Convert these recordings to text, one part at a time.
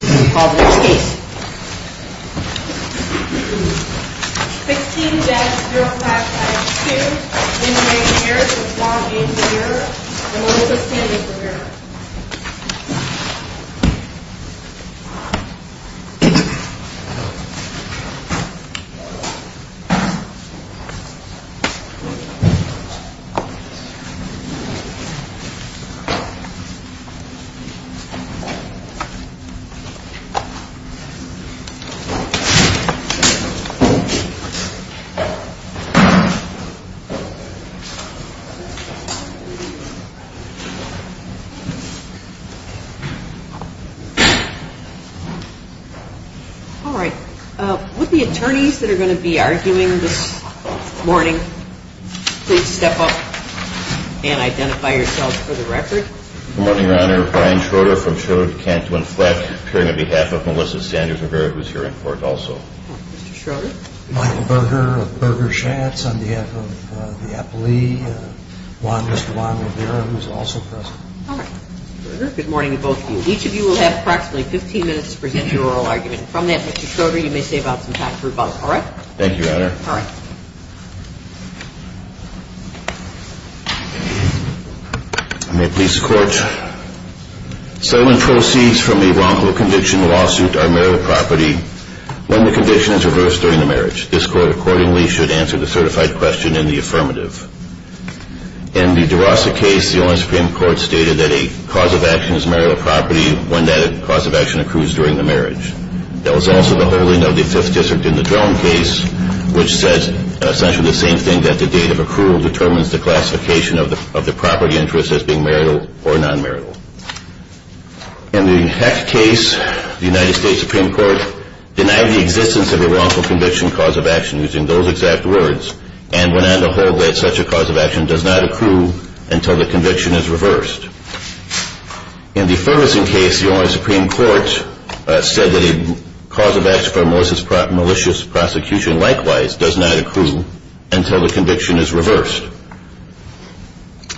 16-05-2008 Marriage of Juan A. Rivera and Melissa Sanchez Rivera All right. With the attorneys that are going to be arguing this morning, please step up and identify yourselves for the record. Good morning, Your Honor. Brian Schroeder from Schroeder, Cantwin, Fleck, appearing on behalf of Melissa Sanders Rivera, who is here in court also. Mr. Schroeder. Michael Berger of Berger Schatz on behalf of the appellee, Mr. Juan Rivera, who is also present. All right. Mr. Berger. Good morning to both of you. Each of you will have approximately 15 minutes to present your oral argument. From that, Mr. Schroeder, you may save up some time for rebuttal. All right? Thank you, Your Honor. All right. May it please the Court. Settlement proceeds from a wrongful conviction lawsuit are marital property when the condition is reversed during the marriage. This Court, accordingly, should answer the certified question in the affirmative. In the DeRosa case, the Ohio Supreme Court stated that a cause of action is marital property when that cause of action accrues during the marriage. There was also the holding of the Fifth District in the Drown case, which says essentially the same thing, that the date of accrual determines the classification of the property interest as being marital or non-marital. In the Heck case, the United States Supreme Court denied the existence of a wrongful conviction cause of action using those exact words and went on to hold that such a cause of action does not accrue until the conviction is reversed. In the Ferguson case, the Ohio Supreme Court said that a cause of action for malicious prosecution, likewise, does not accrue until the conviction is reversed.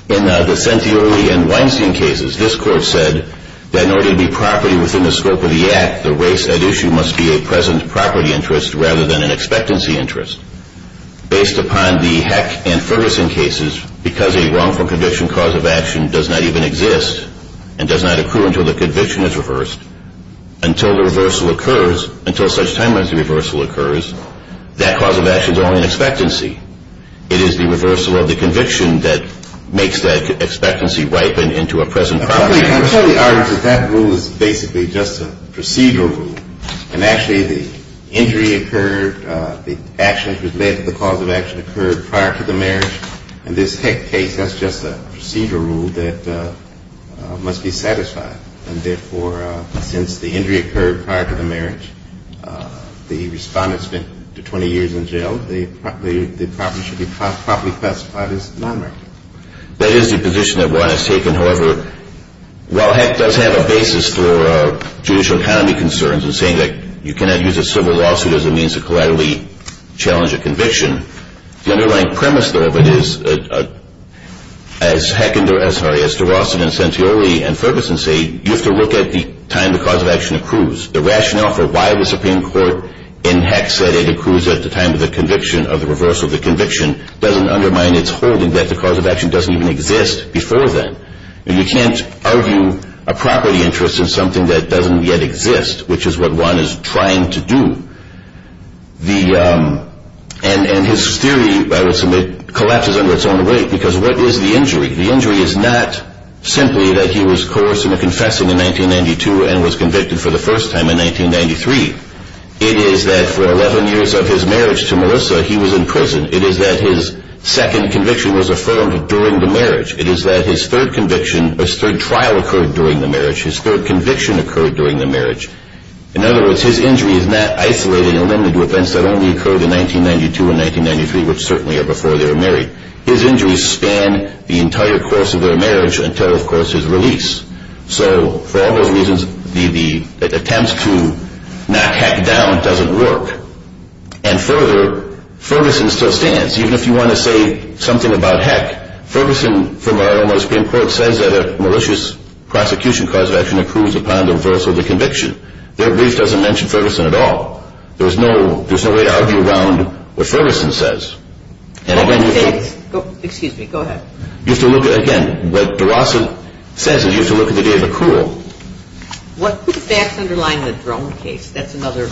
In the Centioli and Weinstein cases, this Court said that in order to be property within the scope of the act, the race at issue must be a present property interest rather than an expectancy interest. Based upon the Heck and Ferguson cases, because a wrongful conviction cause of action does not even exist and does not accrue until the conviction is reversed, until the reversal occurs, until such time as the reversal occurs, that cause of action is only an expectancy. It is the reversal of the conviction that makes that expectancy ripen into a present property interest. I tell the audience that that rule is basically just a procedural rule. And actually, the injury occurred, the action that was led to the cause of action occurred prior to the marriage. In this Heck case, that's just a procedural rule that must be satisfied. And therefore, since the injury occurred prior to the marriage, the respondent spent 20 years in jail, the property should be properly classified as non-marital. That is the position that one has taken. However, while Heck does have a basis for judicial economy concerns in saying that you cannot use a civil lawsuit as a means to collaterally challenge a conviction, the underlying premise, though, of it is, as Durosset and Centioli and Ferguson say, you have to look at the time the cause of action accrues. The rationale for why the Supreme Court in Heck said it accrues at the time of the conviction doesn't undermine its holding that the cause of action doesn't even exist before then. You can't argue a property interest in something that doesn't yet exist, which is what one is trying to do. And his theory, I would submit, collapses under its own weight, because what is the injury? The injury is not simply that he was coerced into confessing in 1992 and was convicted for the first time in 1993. It is that for 11 years of his marriage to Melissa, he was in prison. It is that his second conviction was affirmed during the marriage. It is that his third conviction, his third trial occurred during the marriage. His third conviction occurred during the marriage. In other words, his injury is not isolated and limited to events that only occurred in 1992 and 1993, which certainly are before they were married. His injuries span the entire course of their marriage until, of course, his release. So for all those reasons, the attempt to knock Heck down doesn't work. And further, Ferguson still stands, even if you want to say something about Heck. Ferguson, from our own Supreme Court, says that a malicious prosecution cause of action accrues upon the reversal of the conviction. Their brief doesn't mention Ferguson at all. There's no way to argue around what Ferguson says. Excuse me. Go ahead. You have to look at, again, what DeRosa says is you have to look at the day of accrual. What facts underline the drone case? That's another.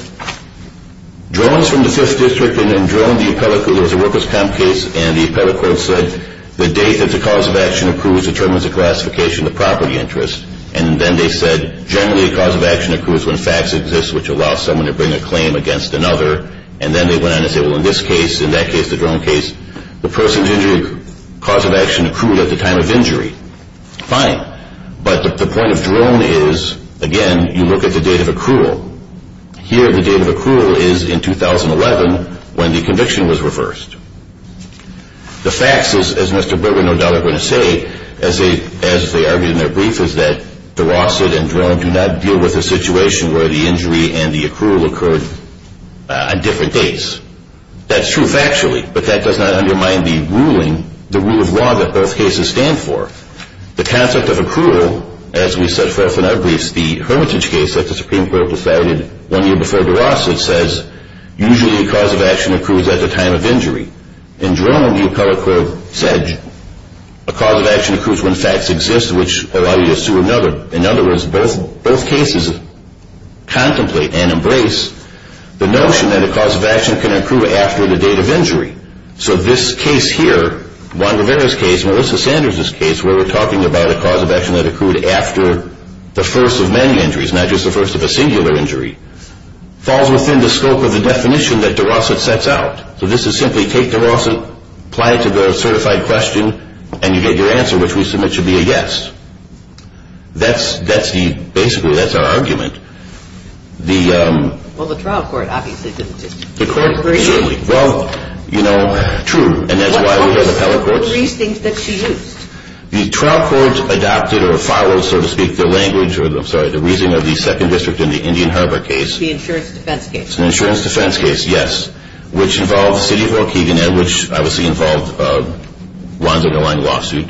Drones from the 5th District and then drone, the appellate court, there was a workers' comp case, and the appellate court said the date that the cause of action accrues determines the classification of property interest. And then they said generally a cause of action accrues when facts exist, which allows someone to bring a claim against another. And then they went on to say, well, in this case, in that case, the drone case, the person's injury cause of action accrued at the time of injury. Fine. But the point of drone is, again, you look at the date of accrual. Here, the date of accrual is in 2011 when the conviction was reversed. The facts is, as Mr. Burtwood no doubt is going to say, as they argued in their brief, is that DeRosa and drone do not deal with a situation where the injury and the accrual occurred on different dates. That's true factually, but that does not undermine the ruling, the rule of law that both cases stand for. The concept of accrual, as we set forth in our briefs, the hermitage case that the Supreme Court decided one year before DeRosa, it says usually a cause of action accrues at the time of injury. In drone, the appellate court said a cause of action accrues when facts exist, which allows you to sue another. In other words, both cases contemplate and embrace the notion that a cause of action can accrue after the date of injury. So this case here, Juan Rivera's case, Melissa Sanders' case, where we're talking about a cause of action that accrued after the first of many injuries, not just the first of a singular injury, falls within the scope of the definition that DeRosa sets out. So this is simply take DeRosa, apply it to the certified question, and you get your answer, which we submit should be a yes. Basically, that's our argument. Well, the trial court obviously didn't disagree. Well, you know, true, and that's why we have appellate courts. What were the reasons that she used? The trial court adopted or followed, so to speak, the language, or I'm sorry, the reasoning of the second district in the Indian Harbor case. The insurance defense case. The insurance defense case, yes, which involved the city of Waukegan and which obviously involved Juan's underlying lawsuit.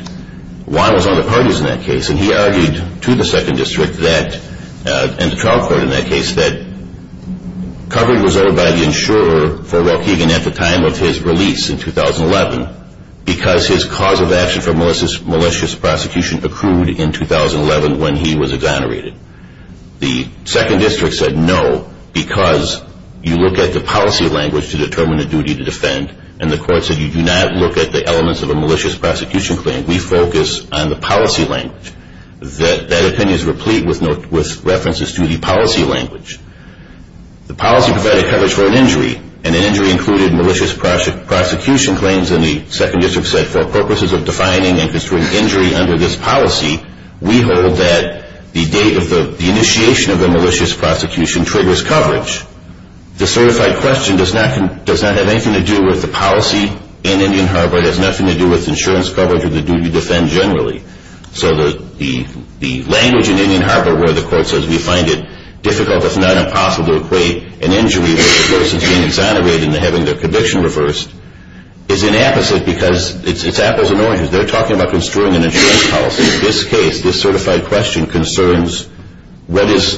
Juan was on the parties in that case, and he argued to the second district and the trial court in that case that coverage was owed by the insurer for Waukegan at the time of his release in 2011 because his cause of action for malicious prosecution accrued in 2011 when he was exonerated. The second district said no because you look at the policy language to determine the duty to defend, and the court said you do not look at the elements of a malicious prosecution claim. We focus on the policy language. That opinion is replete with references to the policy language. The policy provided coverage for an injury, and an injury included malicious prosecution claims, and the second district said for purposes of defining and construing injury under this policy, we hold that the date of the initiation of a malicious prosecution triggers coverage. The certified question does not have anything to do with the policy in Indian Harbor. It has nothing to do with insurance coverage or the duty to defend generally. So the language in Indian Harbor where the court says we find it difficult, if not impossible, to equate an injury where the person is being exonerated and having their conviction reversed is an apposite because it's apples and oranges. They're talking about construing an insurance policy. In this case, this certified question concerns what is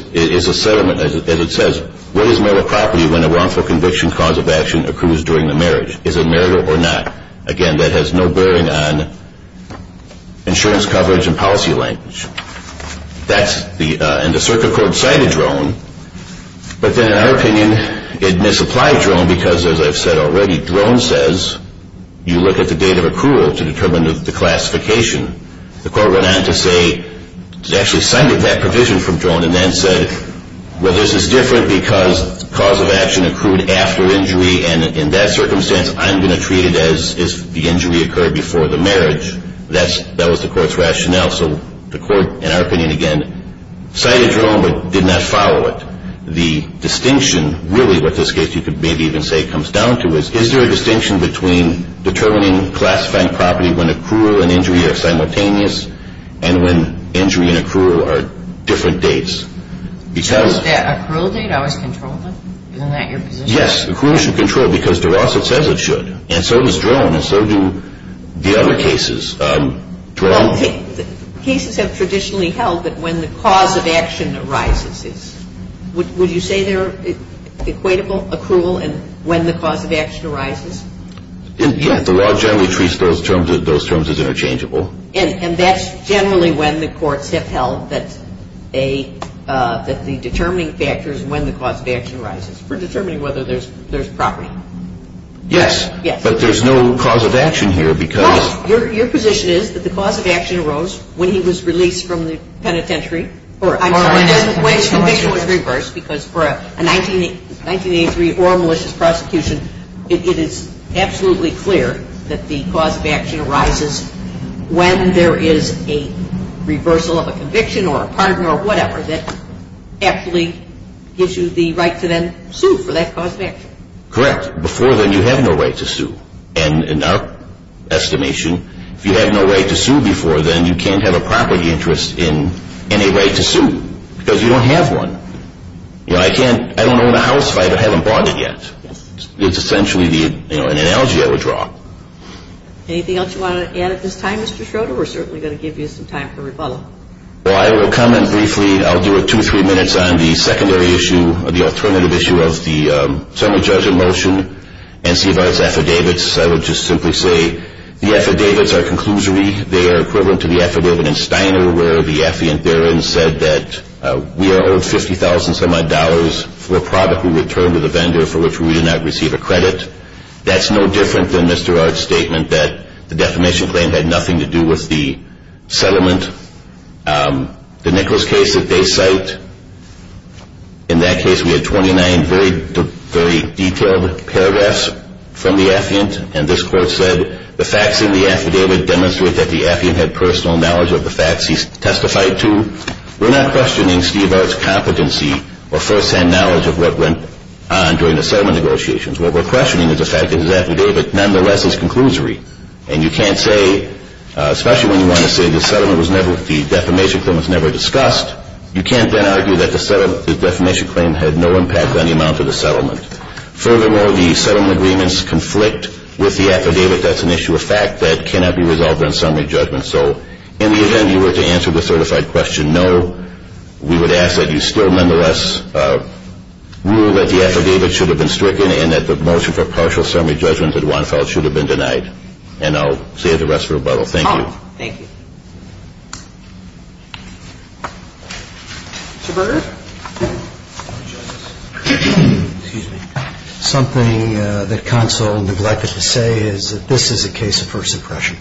a settlement, as it says, what is marital property when a wrongful conviction cause of action accrues during the marriage? Is it marital or not? Again, that has no bearing on insurance coverage and policy language. That's the, and the circuit court cited Drone, but then in our opinion it misapplied Drone because, as I've said already, what Drone says, you look at the date of accrual to determine the classification. The court went on to say it actually cited that provision from Drone and then said, well, this is different because cause of action accrued after injury, and in that circumstance I'm going to treat it as if the injury occurred before the marriage. That was the court's rationale. So the court, in our opinion, again, cited Drone but did not follow it. The distinction, really what this case you could maybe even say comes down to is, is there a distinction between determining classifying property when accrual and injury are simultaneous and when injury and accrual are different dates? Is that accrual date always controlled? Isn't that your position? Yes, accrual should control because DeRosa says it should, and so does Drone, and so do the other cases. Well, cases have traditionally held that when the cause of action arises, would you say they're equatable, accrual, and when the cause of action arises? Yes, the law generally treats those terms as interchangeable. And that's generally when the courts have held that the determining factor is when the cause of action arises for determining whether there's property. Yes, but there's no cause of action here because Your position is that the cause of action arose when he was released from the penitentiary. I'm sorry. Or when his conviction was reversed because for a 1983 oral malicious prosecution, it is absolutely clear that the cause of action arises when there is a reversal of a conviction or a pardon or whatever that actually gives you the right to then sue for that cause of action. Before then, you had no right to sue. And in our estimation, if you had no right to sue before, then you can't have a property interest in any right to sue because you don't have one. You know, I can't, I don't own a house if I haven't bought it yet. Yes. It's essentially the, you know, an analogy I would draw. Anything else you want to add at this time, Mr. Schroeder? We're certainly going to give you some time for rebuttal. Well, I will comment briefly. I'll do it two or three minutes on the secondary issue, or the alternative issue of the Settlement Judgment Motion. NCVAR's affidavits, I would just simply say the affidavits are conclusory. They are equivalent to the affidavit in Steiner where the affiant therein said that we are owed $50,000 for a property returned to the vendor for which we do not receive a credit. That's no different than Mr. Art's statement that the defamation claim had nothing to do with the settlement. The Nichols case that they cite, in that case we had 29 very detailed paragraphs from the affiant, and this court said the facts in the affidavit demonstrate that the affiant had personal knowledge of the facts he testified to. We're not questioning Steve Art's competency or first-hand knowledge of what went on during the settlement negotiations. What we're questioning is the fact that his affidavit nonetheless is conclusory, and you can't say, especially when you want to say the defamation claim was never discussed, you can't then argue that the defamation claim had no impact on the amount of the settlement. Furthermore, the settlement agreements conflict with the affidavit. That's an issue of fact that cannot be resolved on summary judgment. So in the event you were to answer the certified question no, we would ask that you still nonetheless rule that the affidavit should have been stricken and that the motion for partial summary judgment that one filed should have been denied. And I'll save the rest for rebuttal. Thank you. Thank you. Mr. Berger. Excuse me. Something that counsel neglected to say is that this is a case of first impression.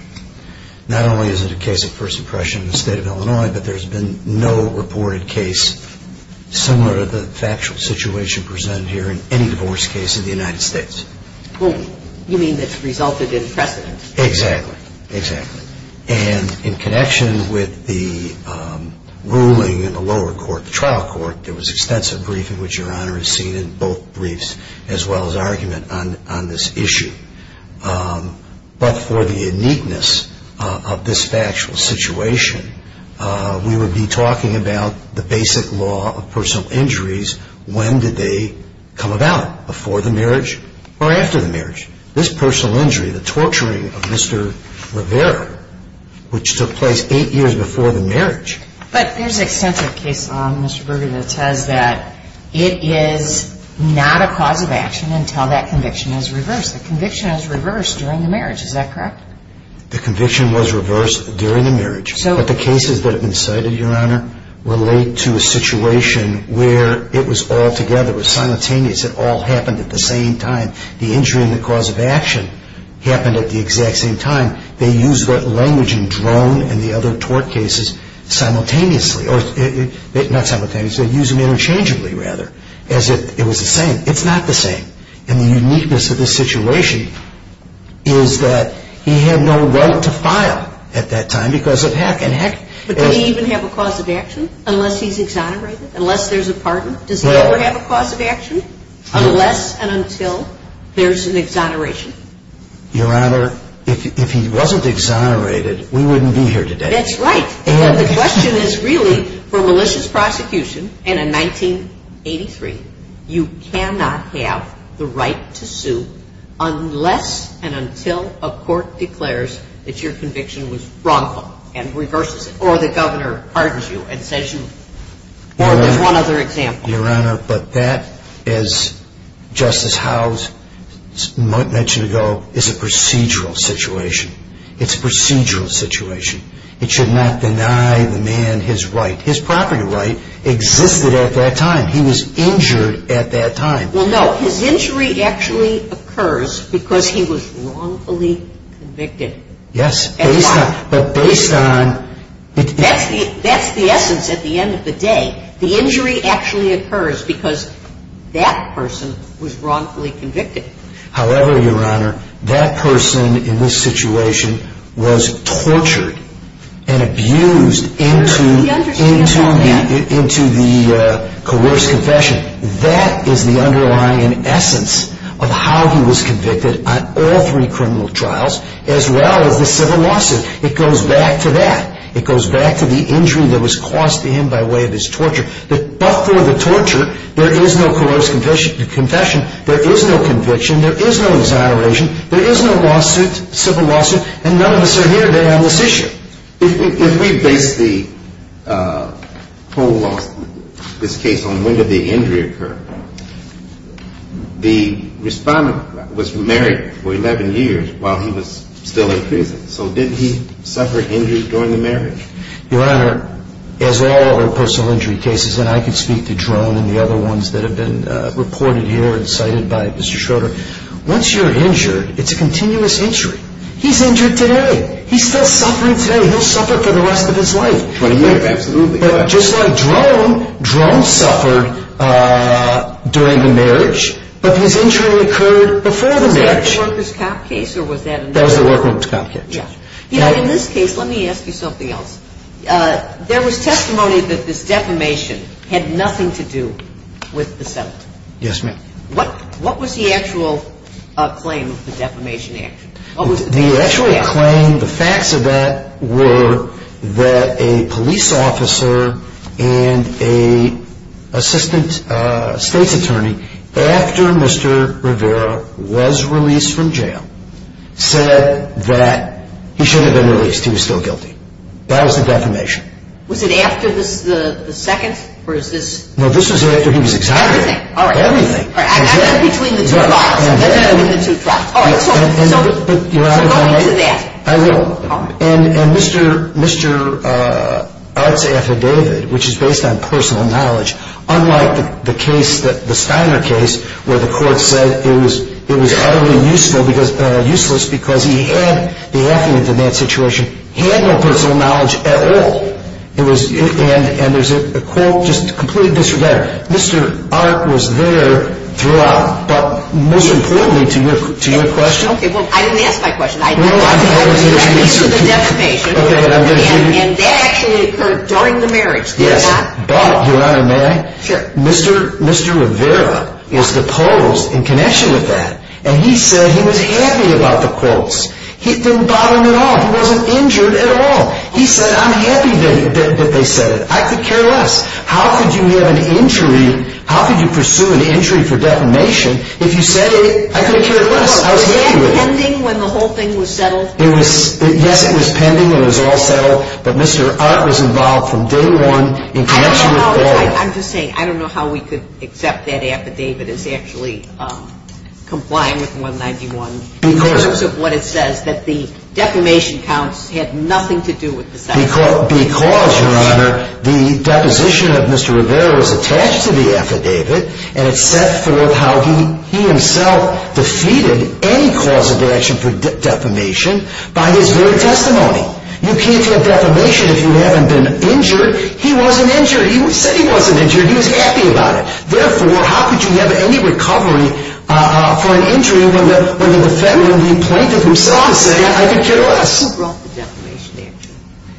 Not only is it a case of first impression in the state of Illinois, but there's been no reported case similar to the factual situation presented here in any divorce case in the United States. You mean it's resulted in precedent. Exactly. Exactly. And in connection with the ruling in the lower court, the trial court, there was extensive briefing, which Your Honor has seen in both briefs, as well as argument on this issue. But for the uniqueness of this factual situation, we would be talking about the basic law of personal injuries. When did they come about? Before the marriage or after the marriage? This personal injury, the torturing of Mr. Rivera, which took place eight years before the marriage. But there's extensive case law, Mr. Berger, that says that it is not a cause of action until that conviction is reversed. The conviction is reversed during the marriage. Is that correct? The conviction was reversed during the marriage. But the cases that have been cited, Your Honor, relate to a situation where it was all together. It was simultaneous. It all happened at the same time. The injury and the cause of action happened at the exact same time. They used that language in Drone and the other tort cases simultaneously. Not simultaneously. They used them interchangeably, rather, as if it was the same. It's not the same. And the uniqueness of this situation is that he had no right to file at that time because of hack and hack. But did he even have a cause of action unless he's exonerated, unless there's a pardon? Does he ever have a cause of action unless and until there's an exoneration? Your Honor, if he wasn't exonerated, we wouldn't be here today. That's right. The question is really, for malicious prosecution, and in 1983, you cannot have the right to sue unless and until a court declares that your conviction was wrongful and reverses it or the governor pardons you and says you – or there's one other example. Your Honor, but that, as Justice Howell mentioned ago, is a procedural situation. It's a procedural situation. It should not deny the man his right. His property right existed at that time. He was injured at that time. Well, no. His injury actually occurs because he was wrongfully convicted. Yes. But based on – That's the essence at the end of the day. The injury actually occurs because that person was wrongfully convicted. However, Your Honor, that person in this situation was tortured and abused into the coerced confession. That is the underlying essence of how he was convicted on all three criminal trials as well as the civil lawsuit. It goes back to that. It goes back to the injury that was caused to him by way of his torture. But for the torture, there is no coerced confession. There is no conviction. There is no exoneration. There is no lawsuit, civil lawsuit, and none of us are here today on this issue. If we base the whole lawsuit, this case, on when did the injury occur, the respondent was married for 11 years while he was still in prison. So did he suffer injury during the marriage? Your Honor, as all other personal injury cases, and I could speak to Drone and the other ones that have been reported here and cited by Mr. Schroeder, once you're injured, it's a continuous injury. He's injured today. He's still suffering today. He'll suffer for the rest of his life. 20 years. Absolutely. But just like Drone, Drone suffered during the marriage, but his injury occurred before the marriage. Was that a workers' cop case or was that another? That was the workers' cop case. Yes. You know, in this case, let me ask you something else. There was testimony that this defamation had nothing to do with the settlement. Yes, ma'am. What was the actual claim of the defamation action? The actual claim, the facts of that were that a police officer and an assistant state's attorney, after Mr. Rivera was released from jail, said that he should have been released. He was still guilty. That was the defamation. Was it after the second or is this? No, this was after he was exonerated. Everything? Everything. All right. All right. That's between the two trials. That's between the two trials. All right. So go into that. I will. And Mr. Art's affidavit, which is based on personal knowledge, unlike the case, the Steiner case, where the court said it was utterly useless because he had the affidavit in that situation. He had no personal knowledge at all. And there's a quote, just completely disregard. Mr. Art was there throughout. But most importantly to your question. Okay. Well, I didn't ask my question. This is the defamation. And that actually occurred during the marriage. Yes. But, Your Honor, may I? Sure. Mr. Rivera is the post in connection with that. And he said he was happy about the quotes. It didn't bother him at all. He wasn't injured at all. He said, I'm happy that they said it. I could care less. How could you pursue an injury for defamation if you said it? I could care less. I was happy with it. Was it pending when the whole thing was settled? Yes, it was pending when it was all settled. But Mr. Art was involved from day one in connection with both. I'm just saying, I don't know how we could accept that affidavit as actually complying with 191 in terms of what it says, that the defamation counts had nothing to do with the Steiner case. Because, Your Honor, the deposition of Mr. Rivera was attached to the affidavit. And it set forth how he himself defeated any cause of action for defamation by his very testimony. You can't have defamation if you haven't been injured. He wasn't injured. He said he wasn't injured. He was happy about it. Therefore, how could you have any recovery for an injury when the defendant replanted himself to say, I could care less? Who brought the defamation action?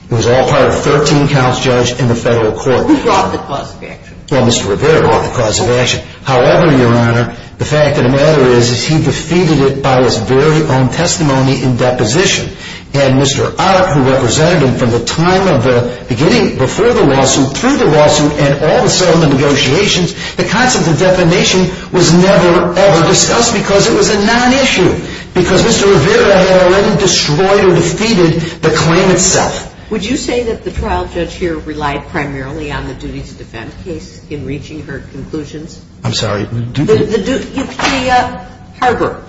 Who brought the cause of action? Well, Mr. Rivera brought the cause of action. However, Your Honor, the fact of the matter is, is he defeated it by his very own testimony in deposition. And Mr. Art, who represented him from the time of the beginning, before the lawsuit, through the lawsuit, and all the settlement negotiations, the concept of defamation was never ever discussed because it was a non-issue. Because Mr. Rivera had already destroyed or defeated the claim itself. Would you say that the trial judge here relied primarily on the duty to defend case in reaching her conclusions? I'm sorry. The duty to harbor.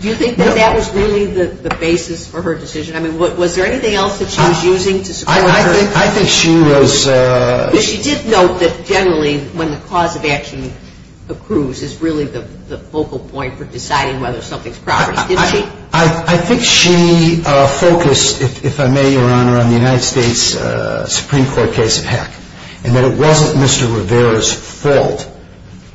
Do you think that that was really the basis for her decision? I mean, was there anything else that she was using to support her? I think she was. She did note that generally when the cause of action accrues, it's really the focal point for deciding whether something's progressed, didn't she? I think she focused, if I may, Your Honor, on the United States Supreme Court case of Heck. And that it wasn't Mr. Rivera's fault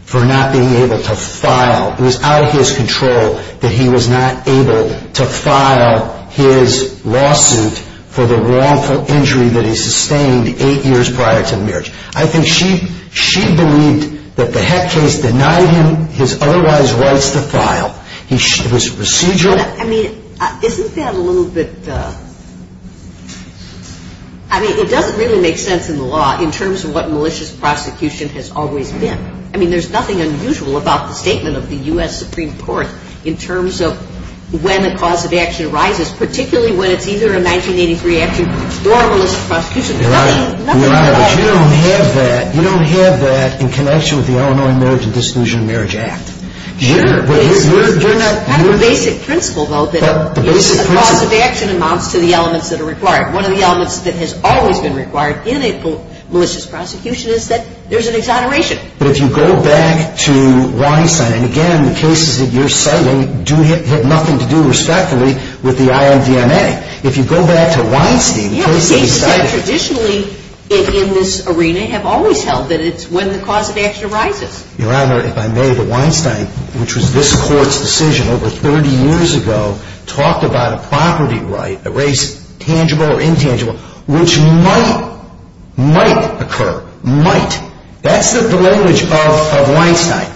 for not being able to file. It was out of his control that he was not able to file his lawsuit for the wrongful injury that he sustained eight years prior to the marriage. I think she believed that the Heck case denied him his otherwise rights to file. It was procedural. I mean, isn't that a little bit, I mean, it doesn't really make sense in the law in terms of what malicious prosecution has always been. I mean, there's nothing unusual about the statement of the U.S. Supreme Court in terms of when a cause of action arises, particularly when it's either a 1983 action or a malicious prosecution. There's nothing unusual about it. Your Honor, but you don't have that. You don't have that in connection with the Illinois Marriage and Disclusion and Marriage Act. Sure, but it's kind of a basic principle, though, that a cause of action amounts to the elements that are required. One of the elements that has always been required in a malicious prosecution is that there's an exoneration. But if you go back to Weinstein, and again, the cases that you're citing have nothing to do, respectively, with the IMDMA. If you go back to Weinstein, the case that he cited. Yeah, but cases that traditionally, in this arena, have always held that it's when the cause of action arises. Your Honor, if I may, the Weinstein, which was this Court's decision over 30 years ago, talked about a property right, a right tangible or intangible, which might, might occur. Might. That's the language of Weinstein.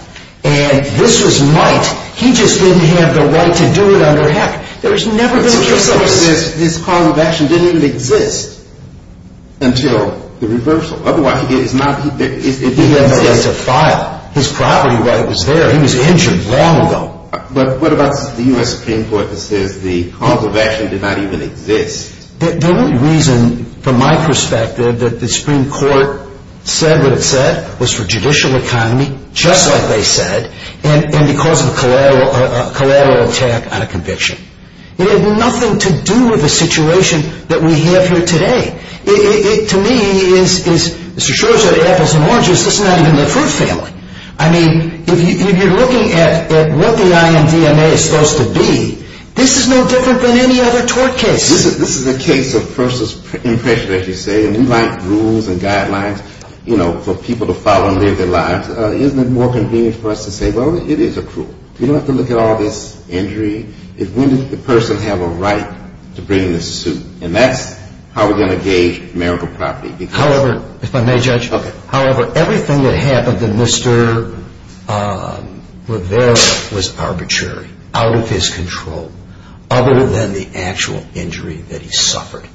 And this was might. He just didn't have the right to do it under heck. There has never been a case like this. This cause of action didn't even exist until the reversal. Otherwise, it is not, it didn't exist. His property right was there. He was injured long ago. But what about the U.S. Supreme Court that says the cause of action did not even exist? The only reason, from my perspective, that the Supreme Court said what it said was for judicial economy, just like they said, and because of a collateral attack on a conviction. It had nothing to do with the situation that we have here today. It, to me, is, Mr. Schor, the apples and oranges, this is not even the fruit family. I mean, if you're looking at what the INDMA is supposed to be, this is no different than any other tort case. This is a case of person's impression, as you say, and we like rules and guidelines, you know, for people to follow and live their lives. Isn't it more convenient for us to say, well, it is accrual? You don't have to look at all this injury. When did the person have a right to bring this suit? And that's how we're going to gauge marital property. However, if I may, Judge, however, everything that happened to Mr. Rivera was arbitrary, out of his control, other than the actual injury that he suffered.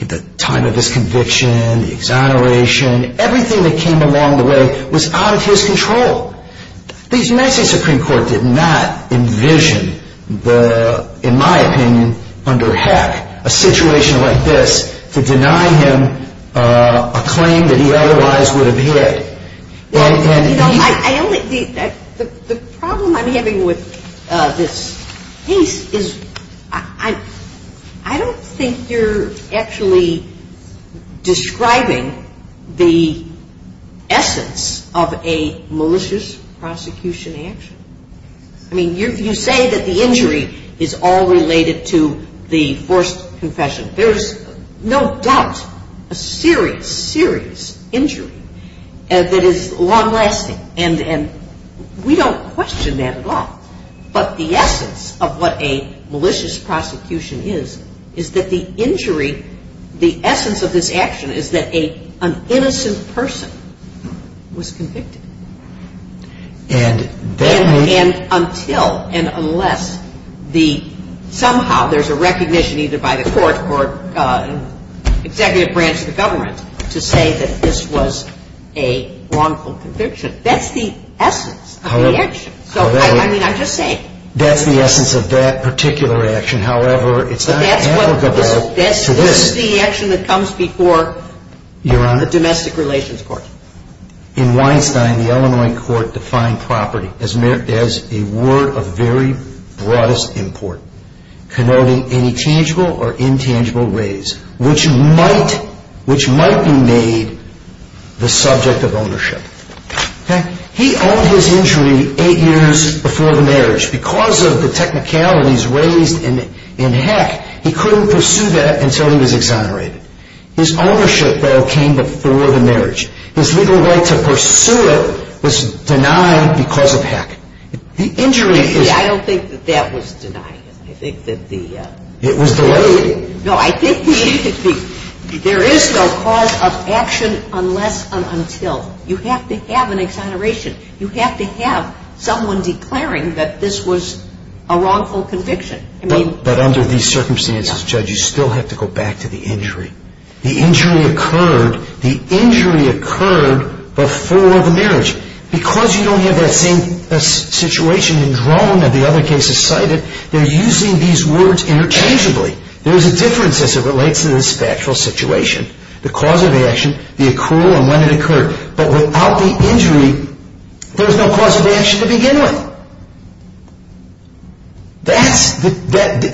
The time of his conviction, the exoneration, everything that came along the way was out of his control. The United States Supreme Court did not envision the, in my opinion, under hack, a situation like this to deny him a claim that he otherwise would have had. The problem I'm having with this case is I don't think you're actually describing the essence of a malicious prosecution action. I mean, you say that the injury is all related to the forced confession. There's no doubt a serious, serious injury that is long-lasting, and we don't question that at all. But the essence of what a malicious prosecution is, is that the injury, the essence of this action is that an innocent person was convicted. And that means... And until and unless the, somehow there's a recognition either by the court or executive branch of the government to say that this was a wrongful conviction. That's the essence of the action. However... So, I mean, I'm just saying. That's the essence of that particular action. However, it's not applicable to this. This is the action that comes before... Your Honor. ...the Domestic Relations Court. In Weinstein, the Illinois court defined property as a word of very broadest import, connoting any tangible or intangible raise, which might be made the subject of ownership. He owned his injury eight years before the marriage. Because of the technicalities raised in Heck, he couldn't pursue that until he was exonerated. His ownership, though, came before the marriage. His legal right to pursue it was denied because of Heck. The injury was... I don't think that that was denied. I think that the... It was delayed. No, I think there is no cause of action unless and until. You have to have an exoneration. You have to have someone declaring that this was a wrongful conviction. But under these circumstances, Judge, you still have to go back to the injury. The injury occurred. The injury occurred before the marriage. Because you don't have that same situation in Drone that the other cases cited, they're using these words interchangeably. There's a difference as it relates to this factual situation, the cause of the action, the accrual, and when it occurred. But without the injury, there's no cause of action to begin with. That's the...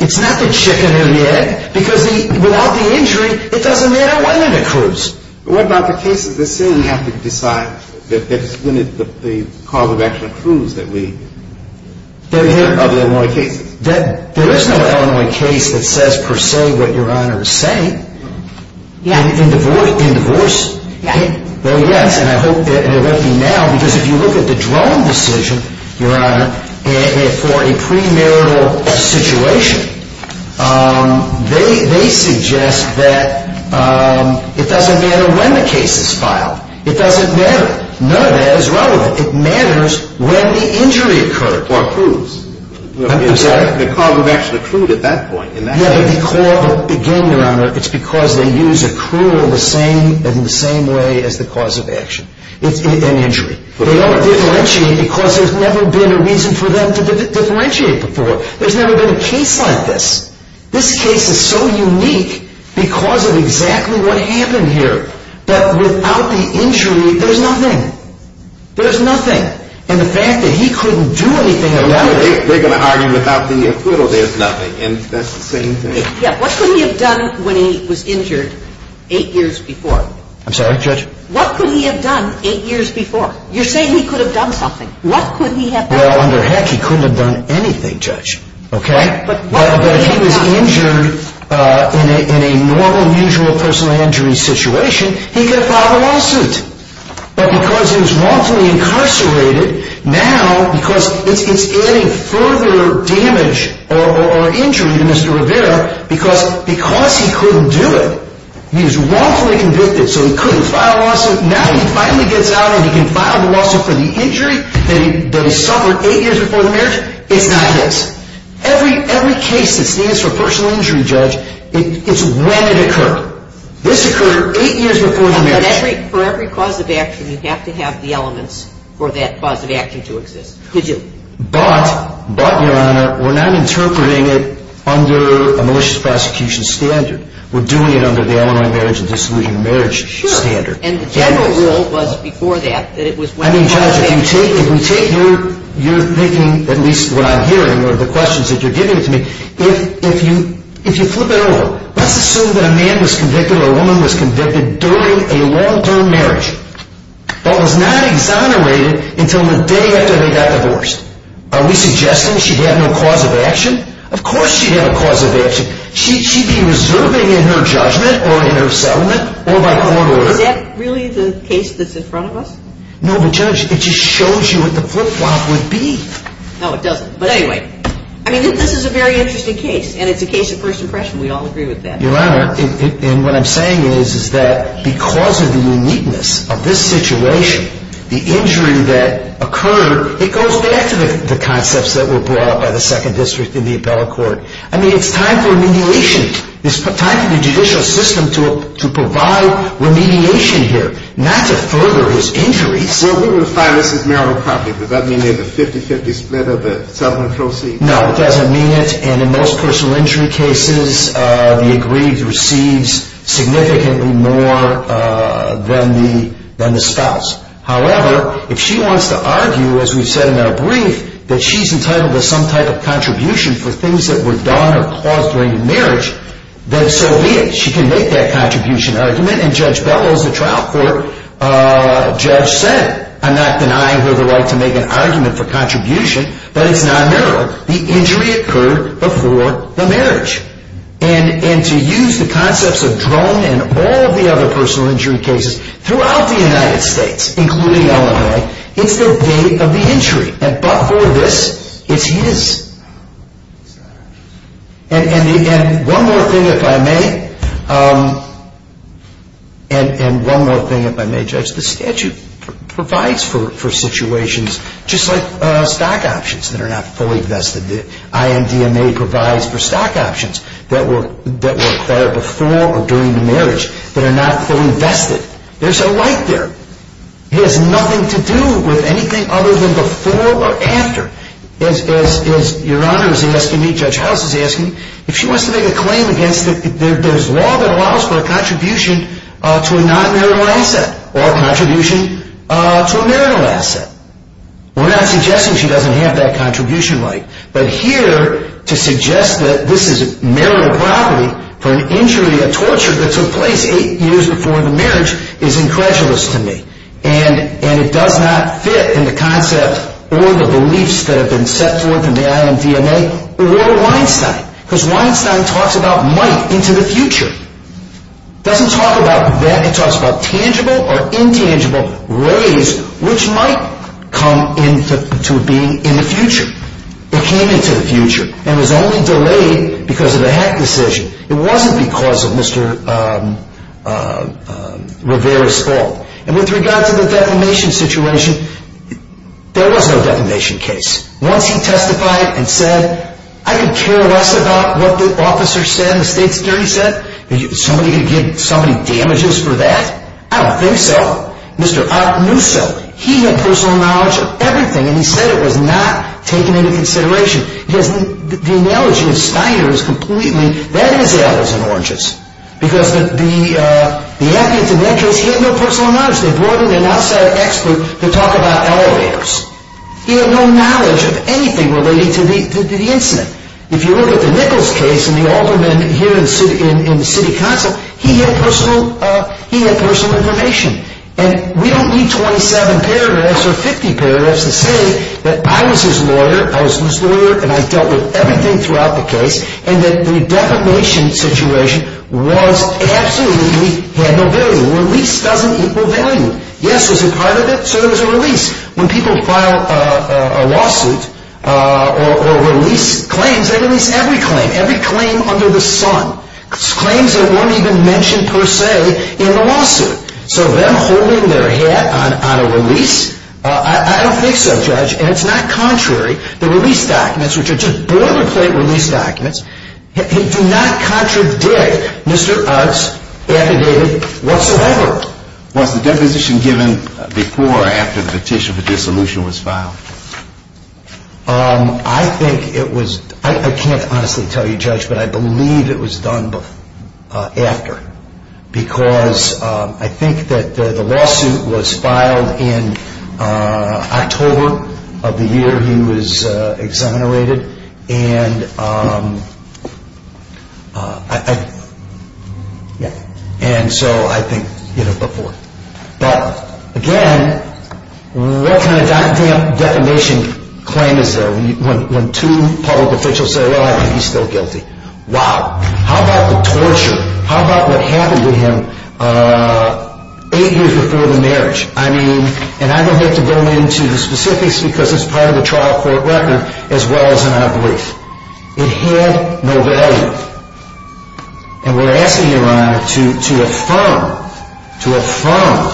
It's not the chicken or the egg. Because without the injury, it doesn't matter whether it accrues. What about the cases that say we have to decide that it's when the cause of action accrues that we... Of Illinois cases. There is no Illinois case that says per se what Your Honor is saying. In divorce, though, yes. And I hope that it won't be now. Because if you look at the Drone decision, Your Honor, for a premarital situation, they suggest that it doesn't matter when the case is filed. It doesn't matter. None of that is relevant. It matters when the injury occurred. Or accrues. I'm sorry? The cause of action accrued at that point. Again, Your Honor, it's because they use accrual in the same way as the cause of action. It's an injury. But they don't differentiate because there's never been a reason for them to differentiate before. There's never been a case like this. This case is so unique because of exactly what happened here. That without the injury, there's nothing. There's nothing. And the fact that he couldn't do anything about it... They're going to argue without the accrual, there's nothing. And that's the same thing. Yeah, what could he have done when he was injured eight years before? I'm sorry, Judge? What could he have done eight years before? You're saying he could have done something. What could he have done? Well, under heck, he couldn't have done anything, Judge. Okay? But what could he have done? Well, if he was injured in a normal, usual personal injury situation, he could have filed a lawsuit. But because he was wrongfully incarcerated, now, because it's adding further damage or injury to Mr. Rivera, because he couldn't do it, he was wrongfully convicted, so he couldn't file a lawsuit, now he finally gets out and he can file the lawsuit for the injury that he suffered eight years before the marriage? It's not this. Every case that stands for personal injury, Judge, it's when it occurred. This occurred eight years before the marriage. For every cause of action, you have to have the elements for that cause of action to exist. But, but, Your Honor, we're not interpreting it under a malicious prosecution standard. We're doing it under the Illinois marriage and dissolution of marriage standard. Sure. And the general rule was before that that it was when it occurred. I mean, Judge, if we take your thinking, at least what I'm hearing or the questions that you're giving to me, if you flip it over, let's assume that a man was convicted or a woman was convicted during a long-term marriage but was not exonerated until the day after they got divorced. Are we suggesting she had no cause of action? Of course she had a cause of action. She'd be reserving in her judgment or in her settlement or by court order. Is that really the case that's in front of us? No, but, Judge, it just shows you what the flip-flop would be. No, it doesn't. But anyway, I mean, this is a very interesting case, and it's a case of first impression. We all agree with that. Your Honor, and what I'm saying is that because of the uniqueness of this situation, the injury that occurred, it goes back to the concepts that were brought up by the Second District in the appellate court. I mean, it's time for remediation. It's time for the judicial system to provide remediation here, not to further his injuries. Well, we would find this is marital property. Does that mean there's a 50-50 split of the settlement proceeds? No, it doesn't mean it. And in most personal injury cases, the aggrieved receives significantly more than the spouse. However, if she wants to argue, as we've said in our brief, that she's entitled to some type of contribution for things that were done or caused during the marriage, then so be it. She can make that contribution argument, and Judge Bellows, the trial court judge, said, I'm not denying her the right to make an argument for contribution, but it's not marital. However, the injury occurred before the marriage. And to use the concepts of Drone and all of the other personal injury cases throughout the United States, including Illinois, it's the date of the injury. But for this, it's his. And one more thing, if I may, and one more thing, if I may, Judge, the statute provides for situations just like stock options that are not fully vested. The IMDMA provides for stock options that were acquired before or during the marriage that are not fully vested. There's a right there. It has nothing to do with anything other than before or after. As Your Honor is asking me, Judge House is asking me, if she wants to make a claim against it, there's law that allows for a contribution to a non-marital asset or a contribution to a marital asset. We're not suggesting she doesn't have that contribution right. But here, to suggest that this is marital property for an injury, a torture that took place eight years before the marriage, is incredulous to me. And it does not fit in the concept or the beliefs that have been set forth in the IMDMA or Weinstein. Because Weinstein talks about might into the future. It doesn't talk about that. It talks about tangible or intangible ways which might come into being in the future. It came into the future. And it was only delayed because of the Heck decision. It wasn't because of Mr. Rivera's fault. And with regard to the defamation situation, there was no defamation case. Once he testified and said, I could care less about what the officer said and the state's jury said. Somebody could give somebody damages for that? I don't think so. Mr. Ott knew so. He had personal knowledge of everything. And he said it was not taken into consideration. Because the analogy of Steiner is completely, that is apples and oranges. Because the evidence in that case, he had no personal knowledge. They brought in an outside expert to talk about elevators. He had no knowledge of anything related to the incident. If you look at the Nichols case and the alderman here in City Council, he had personal information. And we don't need 27 paragraphs or 50 paragraphs to say that I was his lawyer, I was his lawyer, and I dealt with everything throughout the case, and that the defamation situation was absolutely, had no value. Release doesn't equal value. Yes, it was a part of it, so there was a release. When people file a lawsuit or release claims, they release every claim, every claim under the sun, claims that weren't even mentioned per se in the lawsuit. So them holding their hat on a release, I don't think so, Judge. And it's not contrary. The release documents, which are just boilerplate release documents, do not contradict Mr. Ott's affidavit whatsoever. Was the deposition given before or after the petition for dissolution was filed? I think it was, I can't honestly tell you, Judge, but I believe it was done after, because I think that the lawsuit was filed in October of the year he was exonerated, and so I think, you know, before. But, again, what kind of defamation claim is there when two public officials say, well, he's still guilty? Wow. How about the torture? How about what happened to him eight years before the marriage? I mean, and I don't have to go into the specifics because it's part of the trial court record as well as in our brief. It had no value. And we're asking your Honor to affirm, to affirm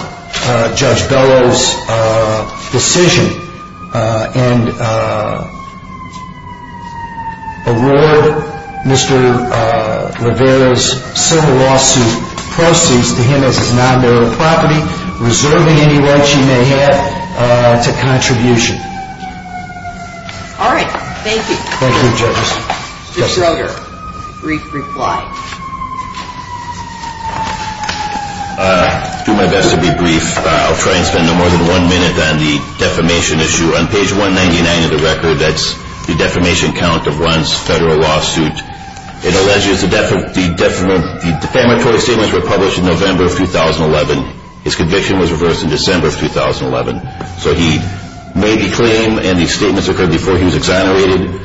Judge Bellow's decision and award Mr. Levera's civil lawsuit proceeds to him as his non-marital property, reserving any rights he may have to contribution. All right. Thank you. Thank you, Judge. Mr. Elder, brief reply. I'll do my best to be brief. I'll try and spend no more than one minute on the defamation issue. On page 199 of the record, that's the defamation count of one's federal lawsuit. It alleges the defamatory statements were published in November of 2011. His conviction was reversed in December of 2011. So he made the claim and the statements occurred before he was exonerated.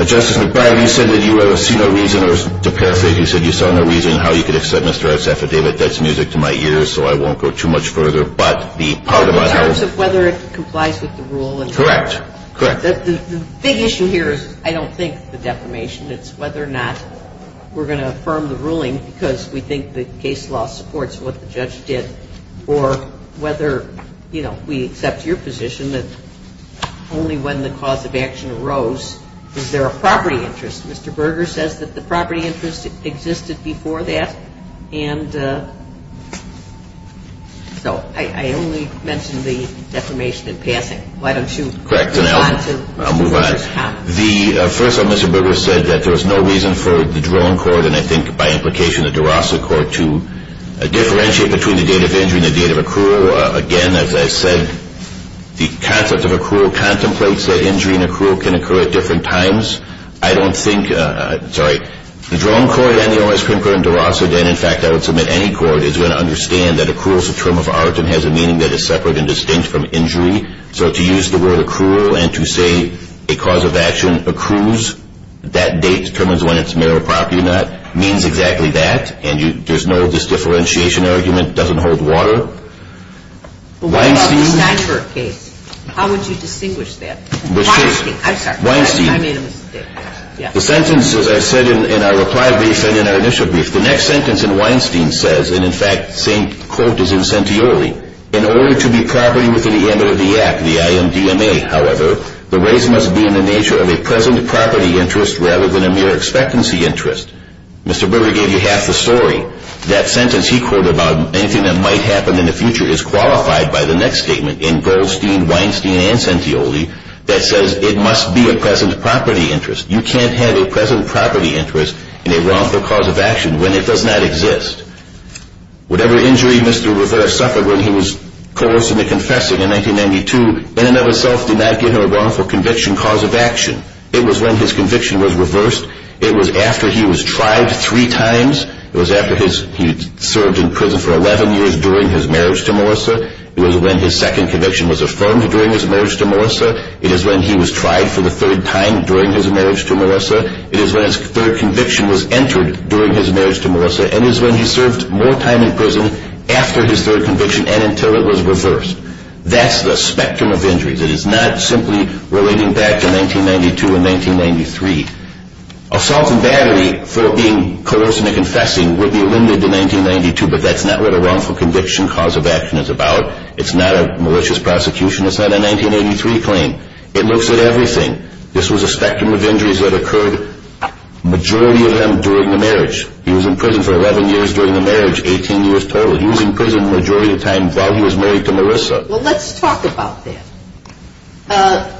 Justice McBride, you said that you have seen no reason or to paraphrase you said you saw no reason how you could accept Mr. Levera's affidavit. That's music to my ears, so I won't go too much further. But the part about our – In terms of whether it complies with the rule and – Correct. Correct. The big issue here is I don't think the defamation. It's whether or not we're going to affirm the ruling because we think the case law supports what the judge did or whether, you know, we accept your position that only when the cause of action arose is there a property interest. Mr. Berger says that the property interest existed before that. And so I only mentioned the defamation in passing. Why don't you – Correct. And I'll move on. First of all, Mr. Berger said that there was no reason for the drone court and I think by implication the DeRosa court to differentiate between the date of injury and the date of accrual. Again, as I said, the concept of accrual contemplates that injury and accrual can occur at different times. I don't think – sorry. The drone court and the O.S. Krinker and DeRosa, and in fact I would submit any court, is going to understand that accrual is a term of art and has a meaning that is separate and distinct from injury. So to use the word accrual and to say a cause of action accrues, that date determines when it's mere property or not, means exactly that. And there's no disdifferentiation argument. It doesn't hold water. Why don't you – The sentence, as I said in our reply brief and in our initial brief, the next sentence in Weinstein says, and in fact the same quote is in Centioli, in order to be property within the M.O.D. Act, the I.M.D.M.A., however, the raise must be in the nature of a present property interest rather than a mere expectancy interest. Mr. Berger gave you half the story. That sentence he quoted about anything that might happen in the future is qualified by the next statement in Goldstein, Weinstein and Centioli that says it must be a present property interest. You can't have a present property interest in a wrongful cause of action when it does not exist. Whatever injury Mr. Rivera suffered when he was coerced into confessing in 1992, in and of itself did not give him a wrongful conviction cause of action. It was when his conviction was reversed. It was after he was tried three times. It was after he served in prison for 11 years during his marriage to Melissa. It was when his second conviction was affirmed during his marriage to Melissa. It is when he was tried for the third time during his marriage to Melissa. It is when his third conviction was entered during his marriage to Melissa. And it is when he served more time in prison after his third conviction and until it was reversed. That's the spectrum of injuries. It is not simply relating back to 1992 and 1993. Assault and battery for being coerced into confessing would be eliminated in 1992, but that's not what a wrongful conviction cause of action is about. It's not a malicious prosecution. It's not a 1983 claim. It looks at everything. This was a spectrum of injuries that occurred, the majority of them, during the marriage. He was in prison for 11 years during the marriage, 18 years total. He was in prison the majority of the time while he was married to Melissa. Well, let's talk about that.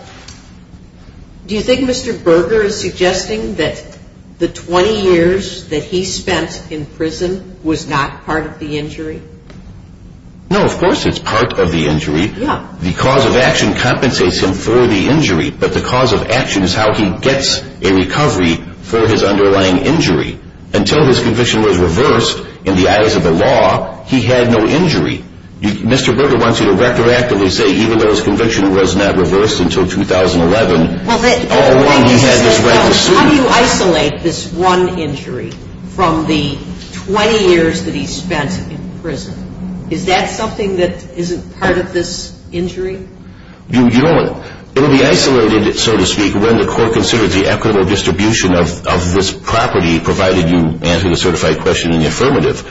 Do you think Mr. Berger is suggesting that the 20 years that he spent in prison was not part of the injury? No, of course it's part of the injury. The cause of action compensates him for the injury, but the cause of action is how he gets a recovery for his underlying injury. Until his conviction was reversed in the eyes of the law, he had no injury. Mr. Berger wants you to retroactively say even though his conviction was not reversed until 2011, all along he had this right to sue. How do you isolate this one injury from the 20 years that he spent in prison? Is that something that isn't part of this injury? It will be isolated, so to speak, when the court considers the equitable distribution of this property, provided you answer the certified question in the affirmative.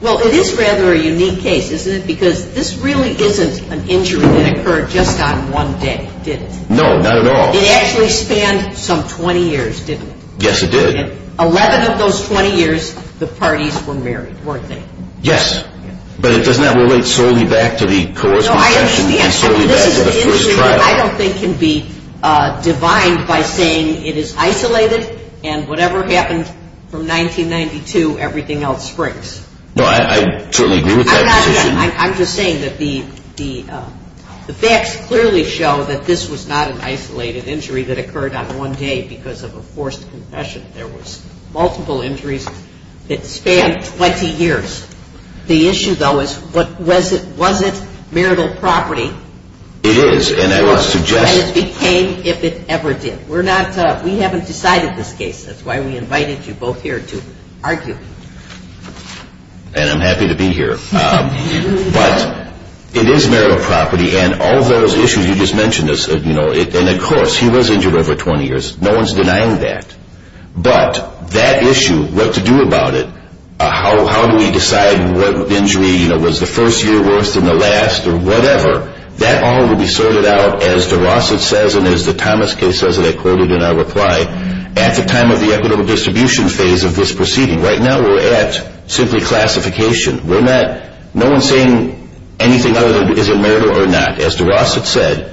Well, it is rather a unique case, isn't it? Because this really isn't an injury that occurred just on one day, did it? No, not at all. It actually spanned some 20 years, didn't it? Yes, it did. Eleven of those 20 years, the parties were married, weren't they? Yes, but it does not relate solely back to the cause of action and solely back to the first trial. This is an injury that I don't think can be divined by saying it is isolated and whatever happened from 1992, everything else springs. No, I certainly agree with that position. I'm just saying that the facts clearly show that this was not an isolated injury that occurred on one day because of a forced confession. There was multiple injuries that spanned 20 years. The issue, though, is was it marital property? It is, and I would suggest. And it became if it ever did. We haven't decided this case. That's why we invited you both here to argue. And I'm happy to be here. But it is marital property, and all those issues you just mentioned, and of course he was injured over 20 years, no one's denying that. But that issue, what to do about it, how do we decide what injury was the first year worse than the last or whatever, that all will be sorted out, as DeRosset says and as the Thomas case says, and I quoted in our reply, at the time of the equitable distribution phase of this proceeding. Right now we're at simply classification. No one's saying anything other than is it marital or not. As DeRosset said,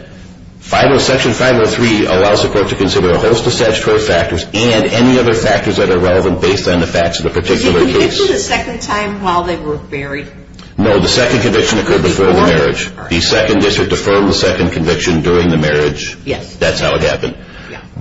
Section 503 allows the court to consider a host of statutory factors and any other factors that are relevant based on the facts of the particular case. Was he convicted a second time while they were married? No, the second conviction occurred before the marriage. The second district affirmed the second conviction during the marriage. Yes. That's how it happened.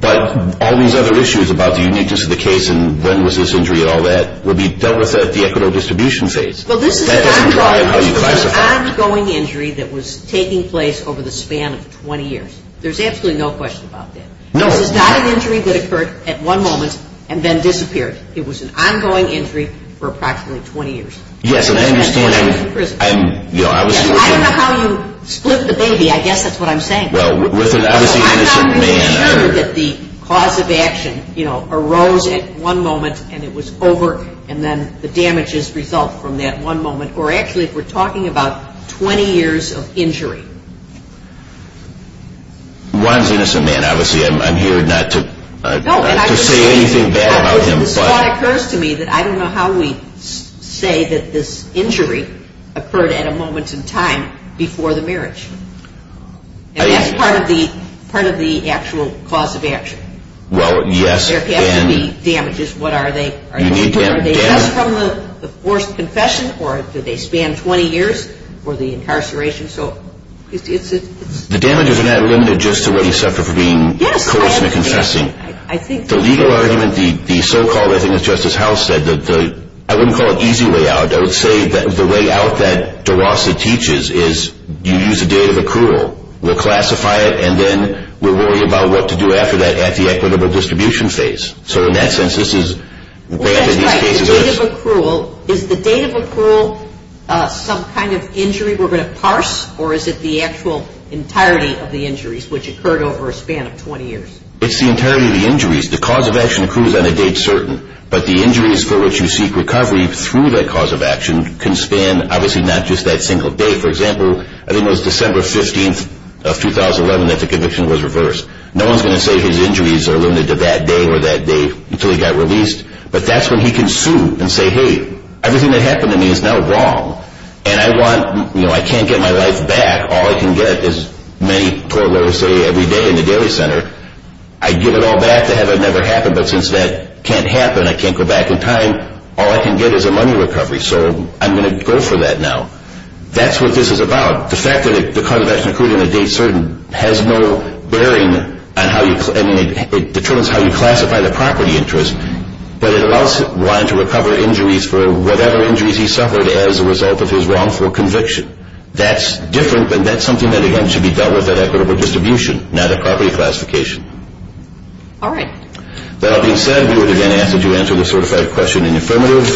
But all these other issues about the uniqueness of the case and when was this injury and all that will be dealt with at the equitable distribution phase. Well, this is an ongoing injury that was taking place over the span of 20 years. There's absolutely no question about that. This is not an injury that occurred at one moment and then disappeared. It was an ongoing injury for approximately 20 years. Yes, and I understand. I don't know how you split the baby. I guess that's what I'm saying. Well, with an obviously innocent man. I'm not sure that the cause of action arose at one moment and it was over and then the damages result from that one moment. Or actually, if we're talking about 20 years of injury. One's an innocent man. Obviously, I'm here not to say anything bad about him. This thought occurs to me that I don't know how we say that this injury occurred at a moment in time before the marriage. And that's part of the actual cause of action. Well, yes. There has to be damages. What are they? Are they just from the forced confession or do they span 20 years for the incarceration? The damages are not limited just to what he suffered for being coerced into confessing. The legal argument, the so-called, I think as Justice Howell said, I wouldn't call it easy way out. I would say that the way out that DeRosa teaches is you use the date of accrual. We'll classify it and then we'll worry about what to do after that at the equitable distribution phase. So in that sense, this is bad in these cases. Well, that's right. The date of accrual, is the date of accrual some kind of injury we're going to parse or is it the actual entirety of the injuries which occurred over a span of 20 years? It's the entirety of the injuries. The cause of action accrues on a date certain, but the injuries for which you seek recovery through that cause of action can span, obviously, not just that single day. For example, I think it was December 15th of 2011 that the conviction was reversed. No one's going to say his injuries are limited to that day or that day until he got released, but that's when he can sue and say, hey, everything that happened to me is now wrong and I can't get my life back. All I can get is many tort lawyers say every day in the daily center. I'd give it all back to have it never happen, but since that can't happen, I can't go back in time, all I can get is a money recovery, so I'm going to go for that now. That's what this is about. The fact that the cause of action accrued on a date certain has no bearing on how you, I mean, it determines how you classify the property interest, but it allows one to recover injuries for whatever injuries he suffered as a result of his wrongful conviction. That's different, and that's something that again should be dealt with at equitable distribution, not at property classification. All right. That being said, we would again ask that you answer the certified question in the affirmative,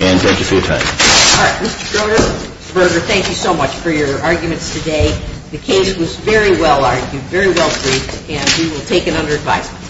and thank you for your time. All right. Mr. Broder, thank you so much for your arguments today. The case was very well argued, very well briefed, and we will take it under advisement.